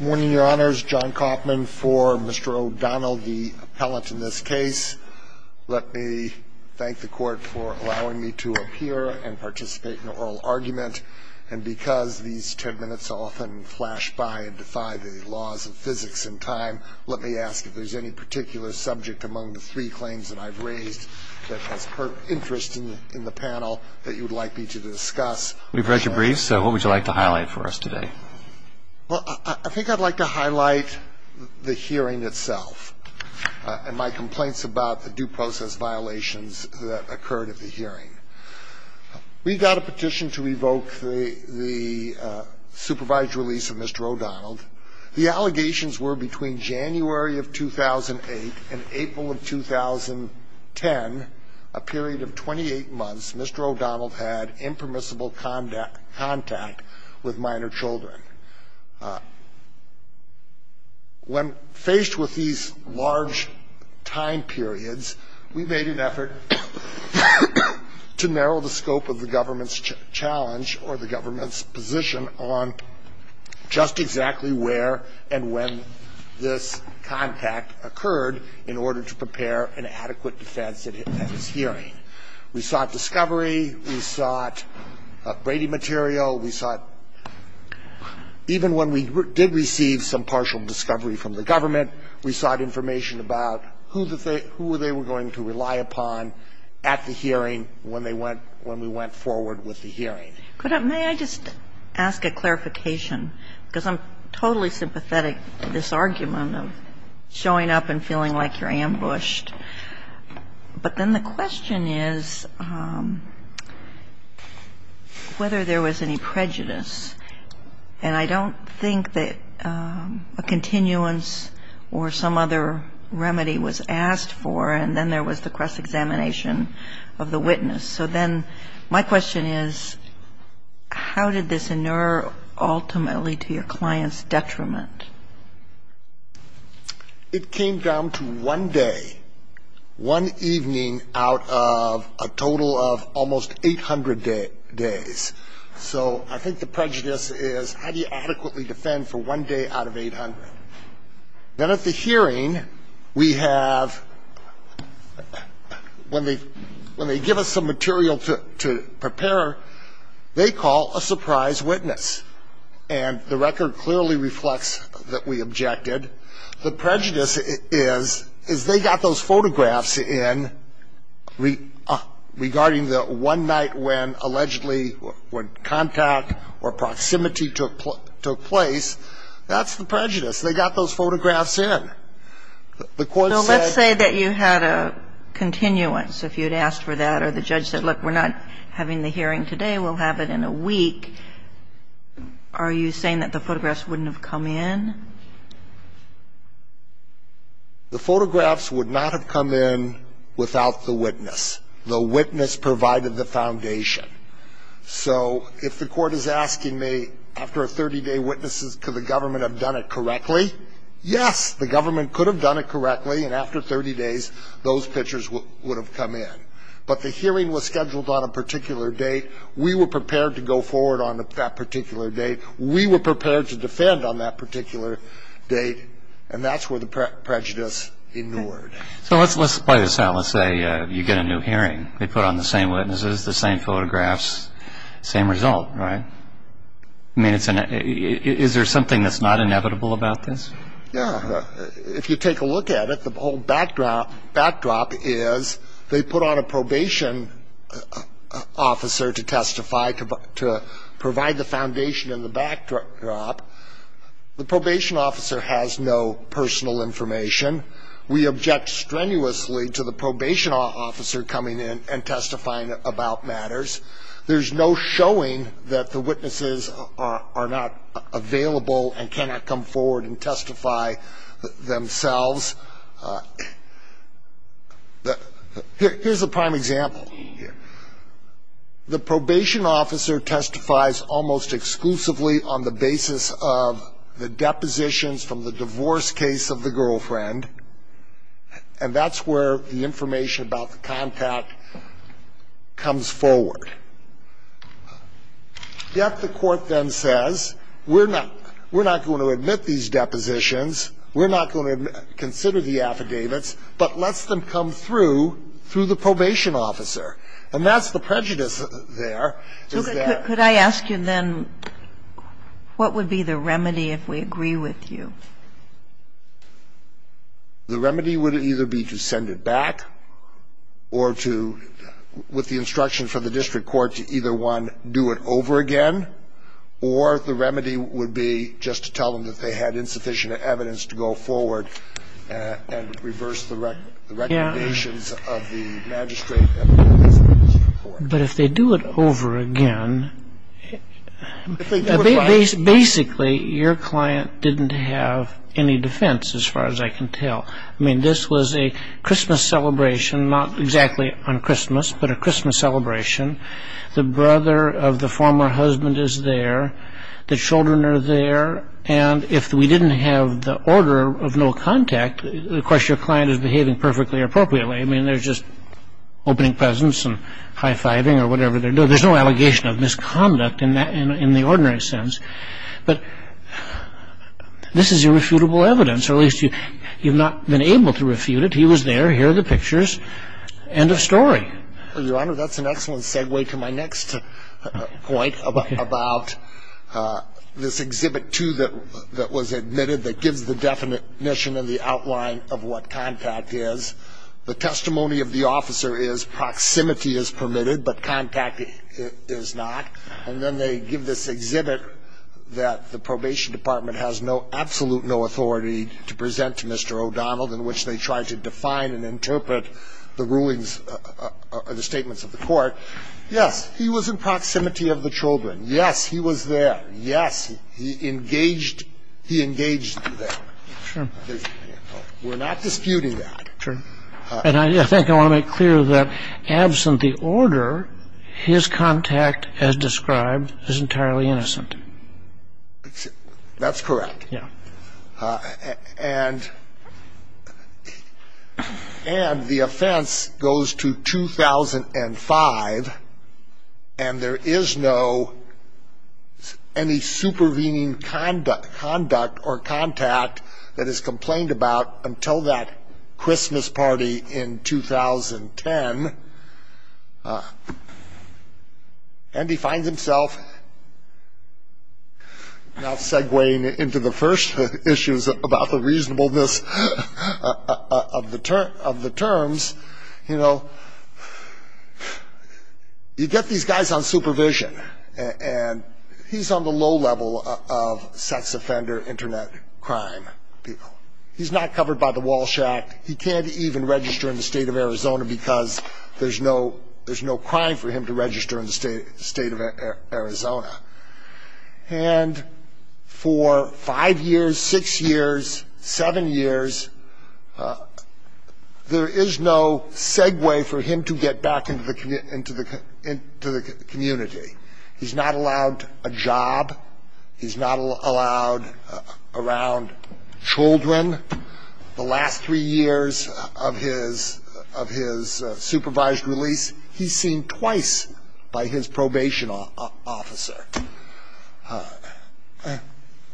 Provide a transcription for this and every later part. Morning, your honors. John Kauffman for Mr. O'Donnell, the appellant in this case. Let me thank the court for allowing me to appear and participate in an oral argument. And because these ten minutes often flash by and defy the laws of physics and time, let me ask if there's any particular subject among the three claims that I've raised that has interest in the panel that you would like me to discuss. We've read your briefs, so what would you like to highlight for us today? Well, I think I'd like to highlight the hearing itself and my complaints about the due process violations that occurred at the hearing. We got a petition to revoke the supervised release of Mr. O'Donnell. The allegations were between January of 2008 and April of 2010, a period of 28 months Mr. O'Donnell had impermissible contact with minor children. When faced with these large time periods, we made an effort to narrow the scope of the government's challenge or the government's position on just exactly where and when this contact occurred in order to prepare an adequate defense at his hearing. We sought discovery. We sought Brady material. We sought, even when we did receive some partial discovery from the government, we sought information about who they were going to rely upon at the hearing when they went when we went forward with the hearing. I'm going to say, may I just ask a clarification, because I'm totally sympathetic to this argument of showing up and feeling like you're ambushed. But then the question is whether there was any prejudice. And I don't think that a continuance or some other remedy was asked for, and then there was the cross-examination of the witness. So then my question is how did this inure ultimately to your client's detriment? It came down to one day, one evening out of a total of almost 800 days. So I think the prejudice is how do you adequately defend for one day out of 800? Then at the hearing, we have, when they give us some material to prepare, they call a surprise witness. And the record clearly reflects that we objected. The prejudice is they got those photographs in regarding the one night when allegedly when contact or proximity took place. That's the prejudice. They got those photographs in. The court said that you had a continuance if you had asked for that or the judge said, look, we're not having the hearing today. We'll have it in a week. Are you saying that the photographs wouldn't have come in? The photographs would not have come in without the witness. The witness provided the foundation. So if the court is asking me after a 30-day witness, could the government have done it correctly? Yes, the government could have done it correctly, and after 30 days, those pictures would have come in. But the hearing was scheduled on a particular date. We were prepared to go forward on that particular date. We were prepared to defend on that particular date, and that's where the prejudice inured. So let's play this out. Let's say you get a new hearing. They put on the same witnesses, the same photographs, same result, right? I mean, is there something that's not inevitable about this? Yeah. If you take a look at it, the whole backdrop is they put on a probation officer to testify, to provide the foundation in the backdrop. The probation officer has no personal information. We object strenuously to the probation officer coming in and testifying about matters. There's no showing that the witnesses are not available and cannot come forward and testify themselves. Here's a prime example. The probation officer testifies almost exclusively on the basis of the depositions from the divorce case of the girlfriend, and that's where the information about the contact comes forward. Yet the court then says we're not going to admit these depositions, we're not going to consider the affidavits, but lets them come through through the probation officer, and that's the prejudice there. So could I ask you then what would be the remedy if we agree with you? The remedy would either be to send it back or to, with the instruction from the district court, to either, one, do it over again, or the remedy would be just to tell them that they had insufficient evidence to go forward and reverse the recommendations of the magistrate and the district court. But if they do it over again, basically your client didn't have any defense as far as I can tell. I mean, this was a Christmas celebration, not exactly on Christmas, but a Christmas celebration. The brother of the former husband is there, the children are there, and if we didn't have the order of no contact, of course your client is behaving perfectly appropriately. I mean, there's just opening presents and high-fiving or whatever. No, there's no allegation of misconduct in the ordinary sense. But this is irrefutable evidence, or at least you've not been able to refute it. He was there, here are the pictures, end of story. Well, Your Honor, that's an excellent segue to my next point about this Exhibit 2 that was admitted that gives the definition and the outline of what contact is. The testimony of the officer is proximity is permitted, but contact is not. And then they give this exhibit that the probation department has no, absolute no authority to present to Mr. O'Donnell, in which they try to define and interpret the rulings or the statements of the court. Yes, he was in proximity of the children. Yes, he was there. Yes, he engaged them. True. We're not disputing that. True. And I think I want to make clear that, absent the order, his contact, as described, is entirely innocent. That's correct. Yeah. And the offense goes to 2005, and there is no, any supervening conduct, or contact that is complained about until that Christmas party in 2010. And he finds himself now segueing into the first issues about the reasonableness of the terms. You know, you get these guys on supervision, and he's on the low level of sex offender Internet crime. He's not covered by the Walsh Act. He can't even register in the State of Arizona because there's no, there's no crime for him to register in the State of Arizona. And for five years, six years, seven years, there is no segue for him to get back into the community. He's not allowed a job. He's not allowed around children. The last three years of his supervised release, he's seen twice by his probation officer.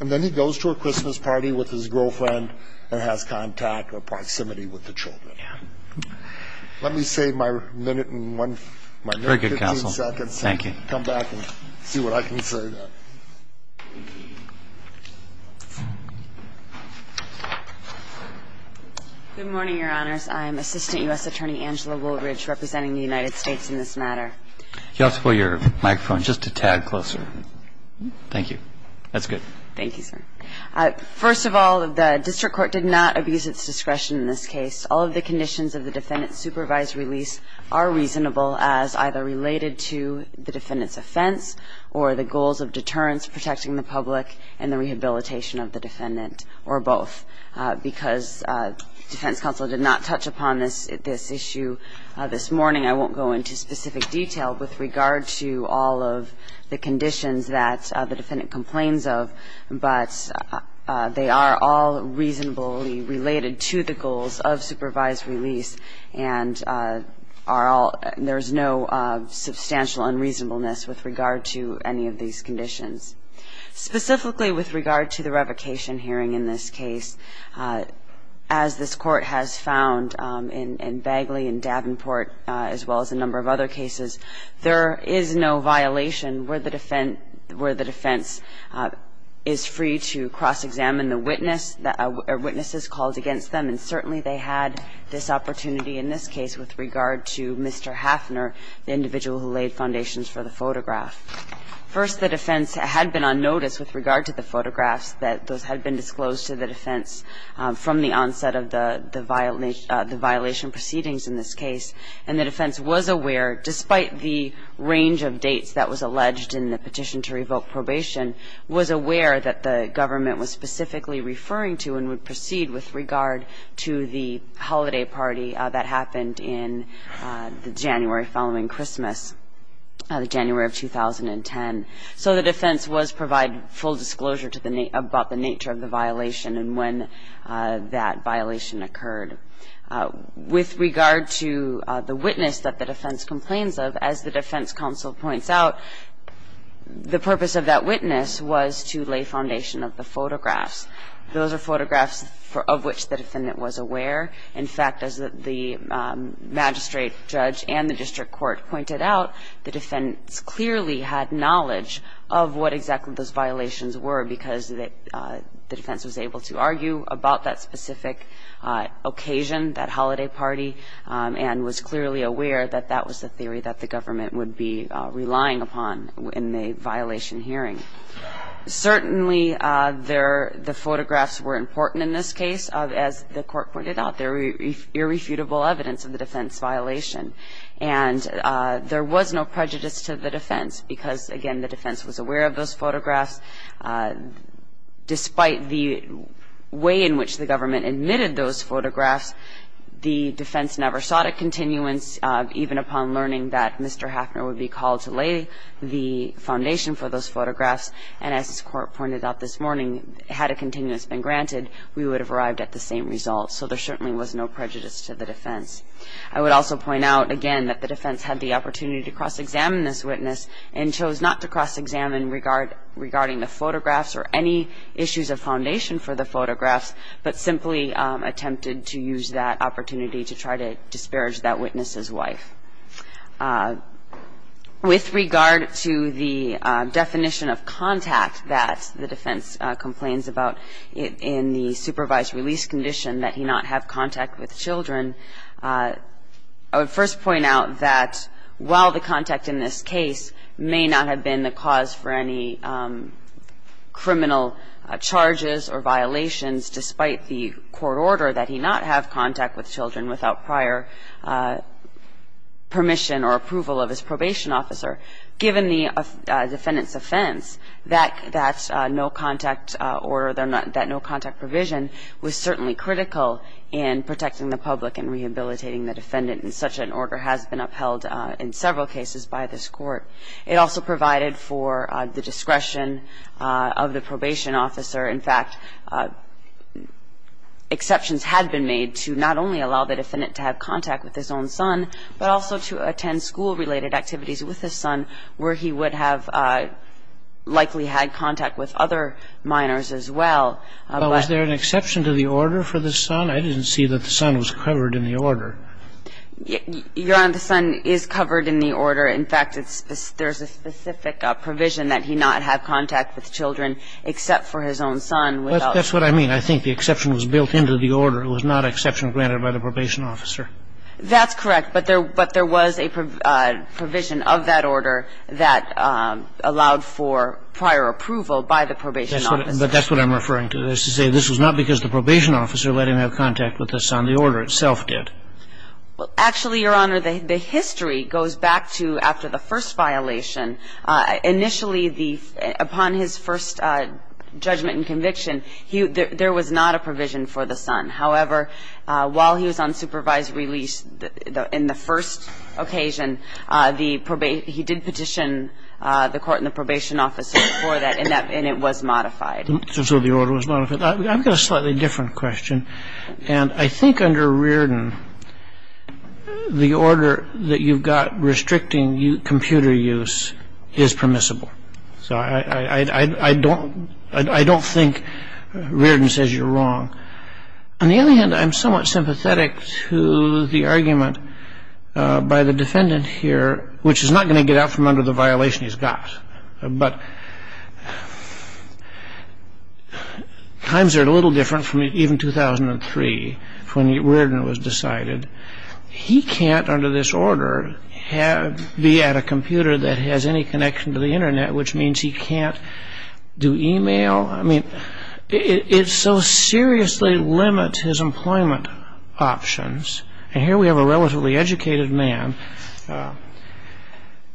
And then he goes to a Christmas party with his girlfriend and has contact or proximity with the children. Yeah. Let me save my minute and one, my 15 seconds. Very good, counsel. Thank you. Come back and see what I can say then. Good morning, Your Honors. I'm Assistant U.S. Attorney Angela Woolridge representing the United States in this matter. You'll have to pull your microphone just a tad closer. Thank you. That's good. Thank you, sir. First of all, the district court did not abuse its discretion in this case. All of the conditions of the defendant's supervised release are reasonable as either related to the defendant's offense or the goals of deterrence protecting the public and the rehabilitation of the defendant or both. Because defense counsel did not touch upon this issue this morning, I won't go into specific detail with regard to all of the conditions that the defendant complains of, but they are all reasonably related to the goals of supervised release and there is no substantial unreasonableness with regard to any of these conditions. Specifically with regard to the revocation hearing in this case, as this Court has found in Bagley and Davenport as well as a number of other cases, there is no violation where the defense is free to cross-examine the witnesses called against them, and certainly they had this opportunity in this case with regard to Mr. Hafner, the individual who laid foundations for the photograph. First, the defense had been on notice with regard to the photographs that those had been disclosed to the defense from the onset of the violation proceedings in this case, and the defense was aware, despite the range of dates that was alleged in the petition to revoke probation, was aware that the government was specifically referring to and would proceed with regard to the holiday party that happened in the January following Christmas, the January of 2010. So the defense was provided full disclosure to the nature of the violation and when that violation occurred. With regard to the witness that the defense complains of, as the defense counsel points out, the purpose of that witness was to lay foundation of the photographs. Those are photographs of which the defendant was aware. In fact, as the magistrate judge and the district court pointed out, the defense clearly had knowledge of what exactly those violations were because the defense was able to argue about that specific occasion, that holiday party, and was clearly aware that that was the theory that the government would be relying upon in the violation hearing. Certainly the photographs were important in this case. As the court pointed out, they're irrefutable evidence of the defense violation. And there was no prejudice to the defense because, again, the defense was aware of those photographs. Despite the way in which the government admitted those photographs, the defense never sought a continuance, even upon learning that Mr. And as the court pointed out this morning, had a continuance been granted, we would have arrived at the same result. So there certainly was no prejudice to the defense. I would also point out, again, that the defense had the opportunity to cross-examine this witness and chose not to cross-examine regarding the photographs or any issues of foundation for the photographs, but simply attempted to use that opportunity to try to disparage that witness's wife. With regard to the definition of contact that the defense complains about in the supervised release condition, that he not have contact with children, I would first point out that while the contact in this case may not have been the cause for any criminal charges or violations, despite the court order that he not have contact with children without prior permission or approval of his probation officer, given the defendant's offense, that no-contact order, that no-contact provision was certainly critical in protecting the public and rehabilitating the defendant. And such an order has been upheld in several cases by this court. It also provided for the discretion of the probation officer. In fact, exceptions had been made to not only allow the defendant to have contact with his own son, but also to attend school-related activities with his son where he would have likely had contact with other minors as well. But was there an exception to the order for the son? I didn't see that the son was covered in the order. Your Honor, the son is covered in the order. In fact, there's a specific provision that he not have contact with children except for his own son without permission. That's what I mean. I think the exception was built into the order. It was not an exception granted by the probation officer. That's correct. But there was a provision of that order that allowed for prior approval by the probation officer. But that's what I'm referring to, is to say this was not because the probation officer let him have contact with the son. The order itself did. Actually, Your Honor, the history goes back to after the first violation. Initially, upon his first judgment and conviction, there was not a provision for the son. However, while he was on supervised release in the first occasion, he did petition the court and the probation officer for that, and it was modified. So the order was modified. I've got a slightly different question. And I think under Riordan, the order that you've got restricting computer use is permissible. So I don't think Riordan says you're wrong. On the other hand, I'm somewhat sympathetic to the argument by the defendant here, which is not going to get out from under the violation he's got. But times are a little different from even 2003, when Riordan was decided. He can't, under this order, be at a computer that has any connection to the Internet, which means he can't do email. I mean, it so seriously limits his employment options. And here we have a relatively educated man.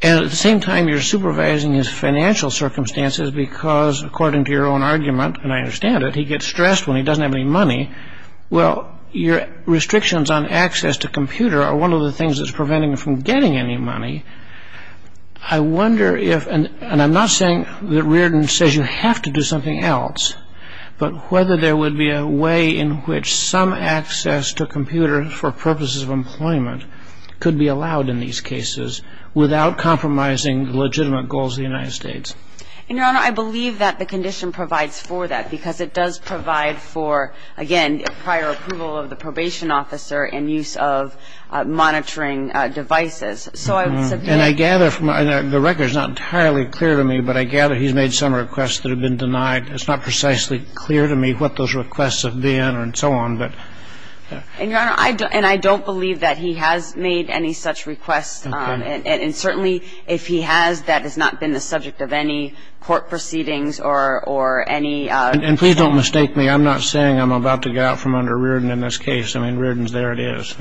And at the same time, you're supervising his financial circumstances because, according to your own argument, and I understand it, he gets stressed when he doesn't have any money. Well, your restrictions on access to computer are one of the things that's preventing him from getting any money. I wonder if, and I'm not saying that Riordan says you have to do something else, but whether there would be a way in which some access to computer for him would be allowed in these cases without compromising the legitimate goals of the United States. And, Your Honor, I believe that the condition provides for that, because it does provide for, again, prior approval of the probation officer and use of monitoring devices. So I would submit. And I gather from the record, it's not entirely clear to me, but I gather he's made some requests that have been denied. It's not precisely clear to me what those requests have been and so on, but. And, Your Honor, I don't believe that he has made any such requests. Okay. And certainly, if he has, that has not been the subject of any court proceedings or any. And please don't mistake me. I'm not saying I'm about to get out from under Riordan in this case. I mean, Riordan's there. It is.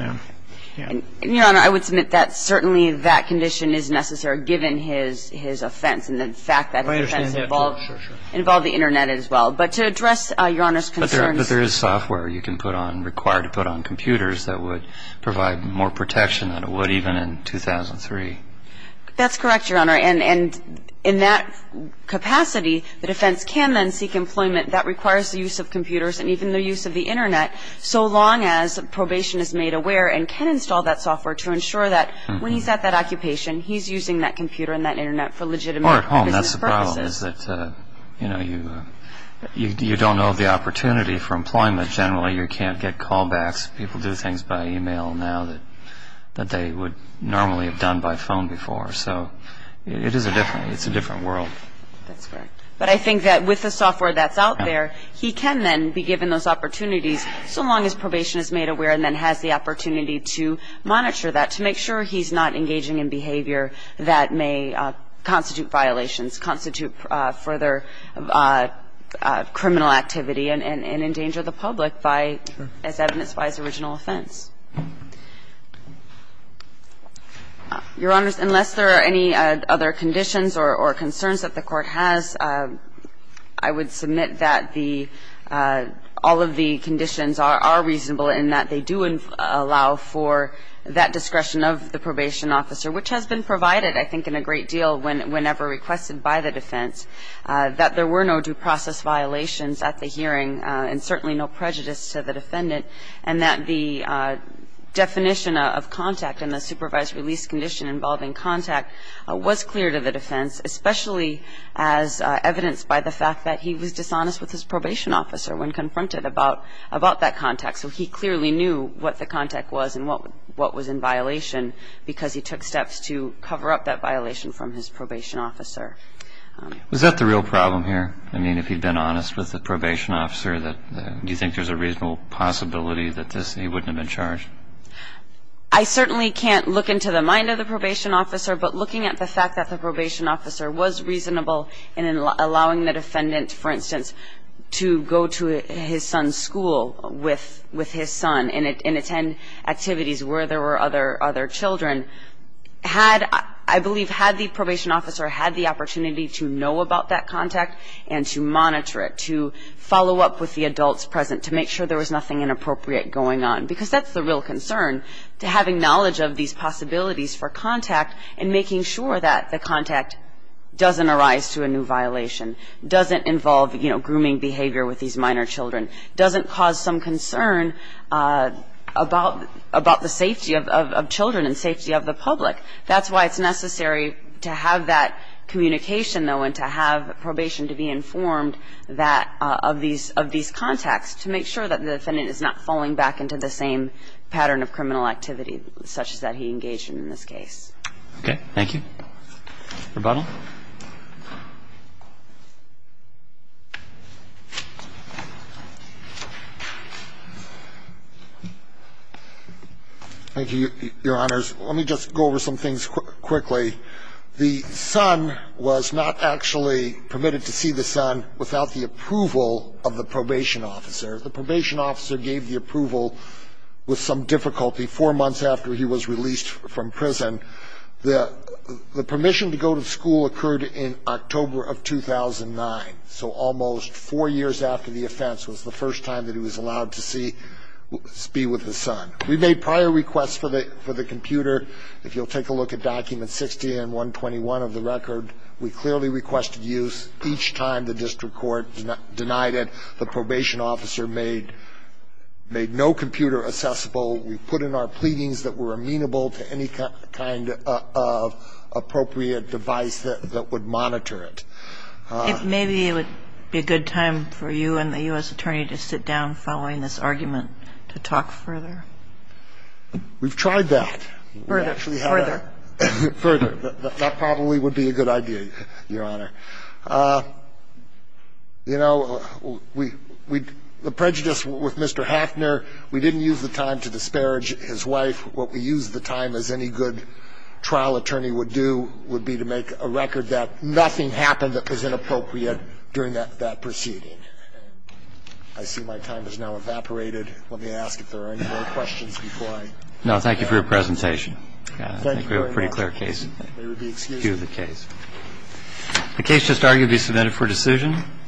And, Your Honor, I would submit that certainly that condition is necessary, given his offense and the fact that his offense involved the Internet as well. But to address Your Honor's concerns. But there is software you can put on, required to put on computers that would provide more protection than it would even in 2003. That's correct, Your Honor. And in that capacity, the defense can then seek employment that requires the use of computers and even the use of the Internet, so long as probation is made aware and can install that software to ensure that when he's at that occupation, he's using that computer and that Internet for legitimate business purposes. Well, if you're at home, that's the problem, is that, you know, you don't know the opportunity for employment. Generally, you can't get callbacks. People do things by e-mail now that they would normally have done by phone before. So it is a different world. That's correct. But I think that with the software that's out there, he can then be given those opportunities, so long as probation is made aware and then has the opportunity to monitor that to make sure he's not engaging in behavior that may constitute violations, constitute further criminal activity and endanger the public by, as evidenced by his original offense. Your Honors, unless there are any other conditions or concerns that the Court has, I would submit that the – all of the conditions are reasonable in that they do allow for that discretion of the probation officer, which has been provided, I think, in a great deal whenever requested by the defense, that there were no due process violations at the hearing and certainly no prejudice to the defendant, and that the definition of contact and the supervised release condition involving contact was clear to the defense, especially as evidenced by the fact that he was dishonest with his probation officer when confronted about that contact. So he clearly knew what the contact was and what was in violation because he took steps to cover up that violation from his probation officer. Was that the real problem here? I mean, if he'd been honest with the probation officer, do you think there's a reasonable possibility that he wouldn't have been charged? I certainly can't look into the mind of the probation officer, but looking at the fact that the probation officer was reasonable in allowing the defendant, for instance, to go to his son's school with his son and attend activities where there were other children, had, I believe, had the probation officer had the opportunity to know about that contact and to monitor it, to follow up with the adults present, to make sure there was nothing inappropriate going on, because that's the real concern, to having knowledge of these possibilities for contact and making sure that the contact doesn't arise to a new violation, doesn't involve, you know, some concern about the safety of children and safety of the public. That's why it's necessary to have that communication, though, and to have probation to be informed of these contacts, to make sure that the defendant is not falling back into the same pattern of criminal activity, such as that he engaged in in this case. Okay. Thank you. Rebuttal. Thank you, Your Honors. Let me just go over some things quickly. The son was not actually permitted to see the son without the approval of the probation officer. The probation officer gave the approval with some difficulty four months after he was released from prison. The permission to go to school occurred in October of 2009, so almost four years after the offense was the first time that he was allowed to be with his son. We made prior requests for the computer. If you'll take a look at documents 60 and 121 of the record, we clearly requested use. Each time the district court denied it, the probation officer made no computer accessible. We put in our pleadings that were amenable to any kind of appropriate device that would monitor it. If maybe it would be a good time for you and the U.S. attorney to sit down following this argument to talk further. We've tried that. Further. Further. That probably would be a good idea, Your Honor. You know, we do not have a good time to make a record. We don't have a good time to make a record. We didn't use the time to tell Mr. Hackner to go to the hospital. We didn't use the time to tell Mr. Hackner to go to the hospital, either. The case is argued to be submitted for decision.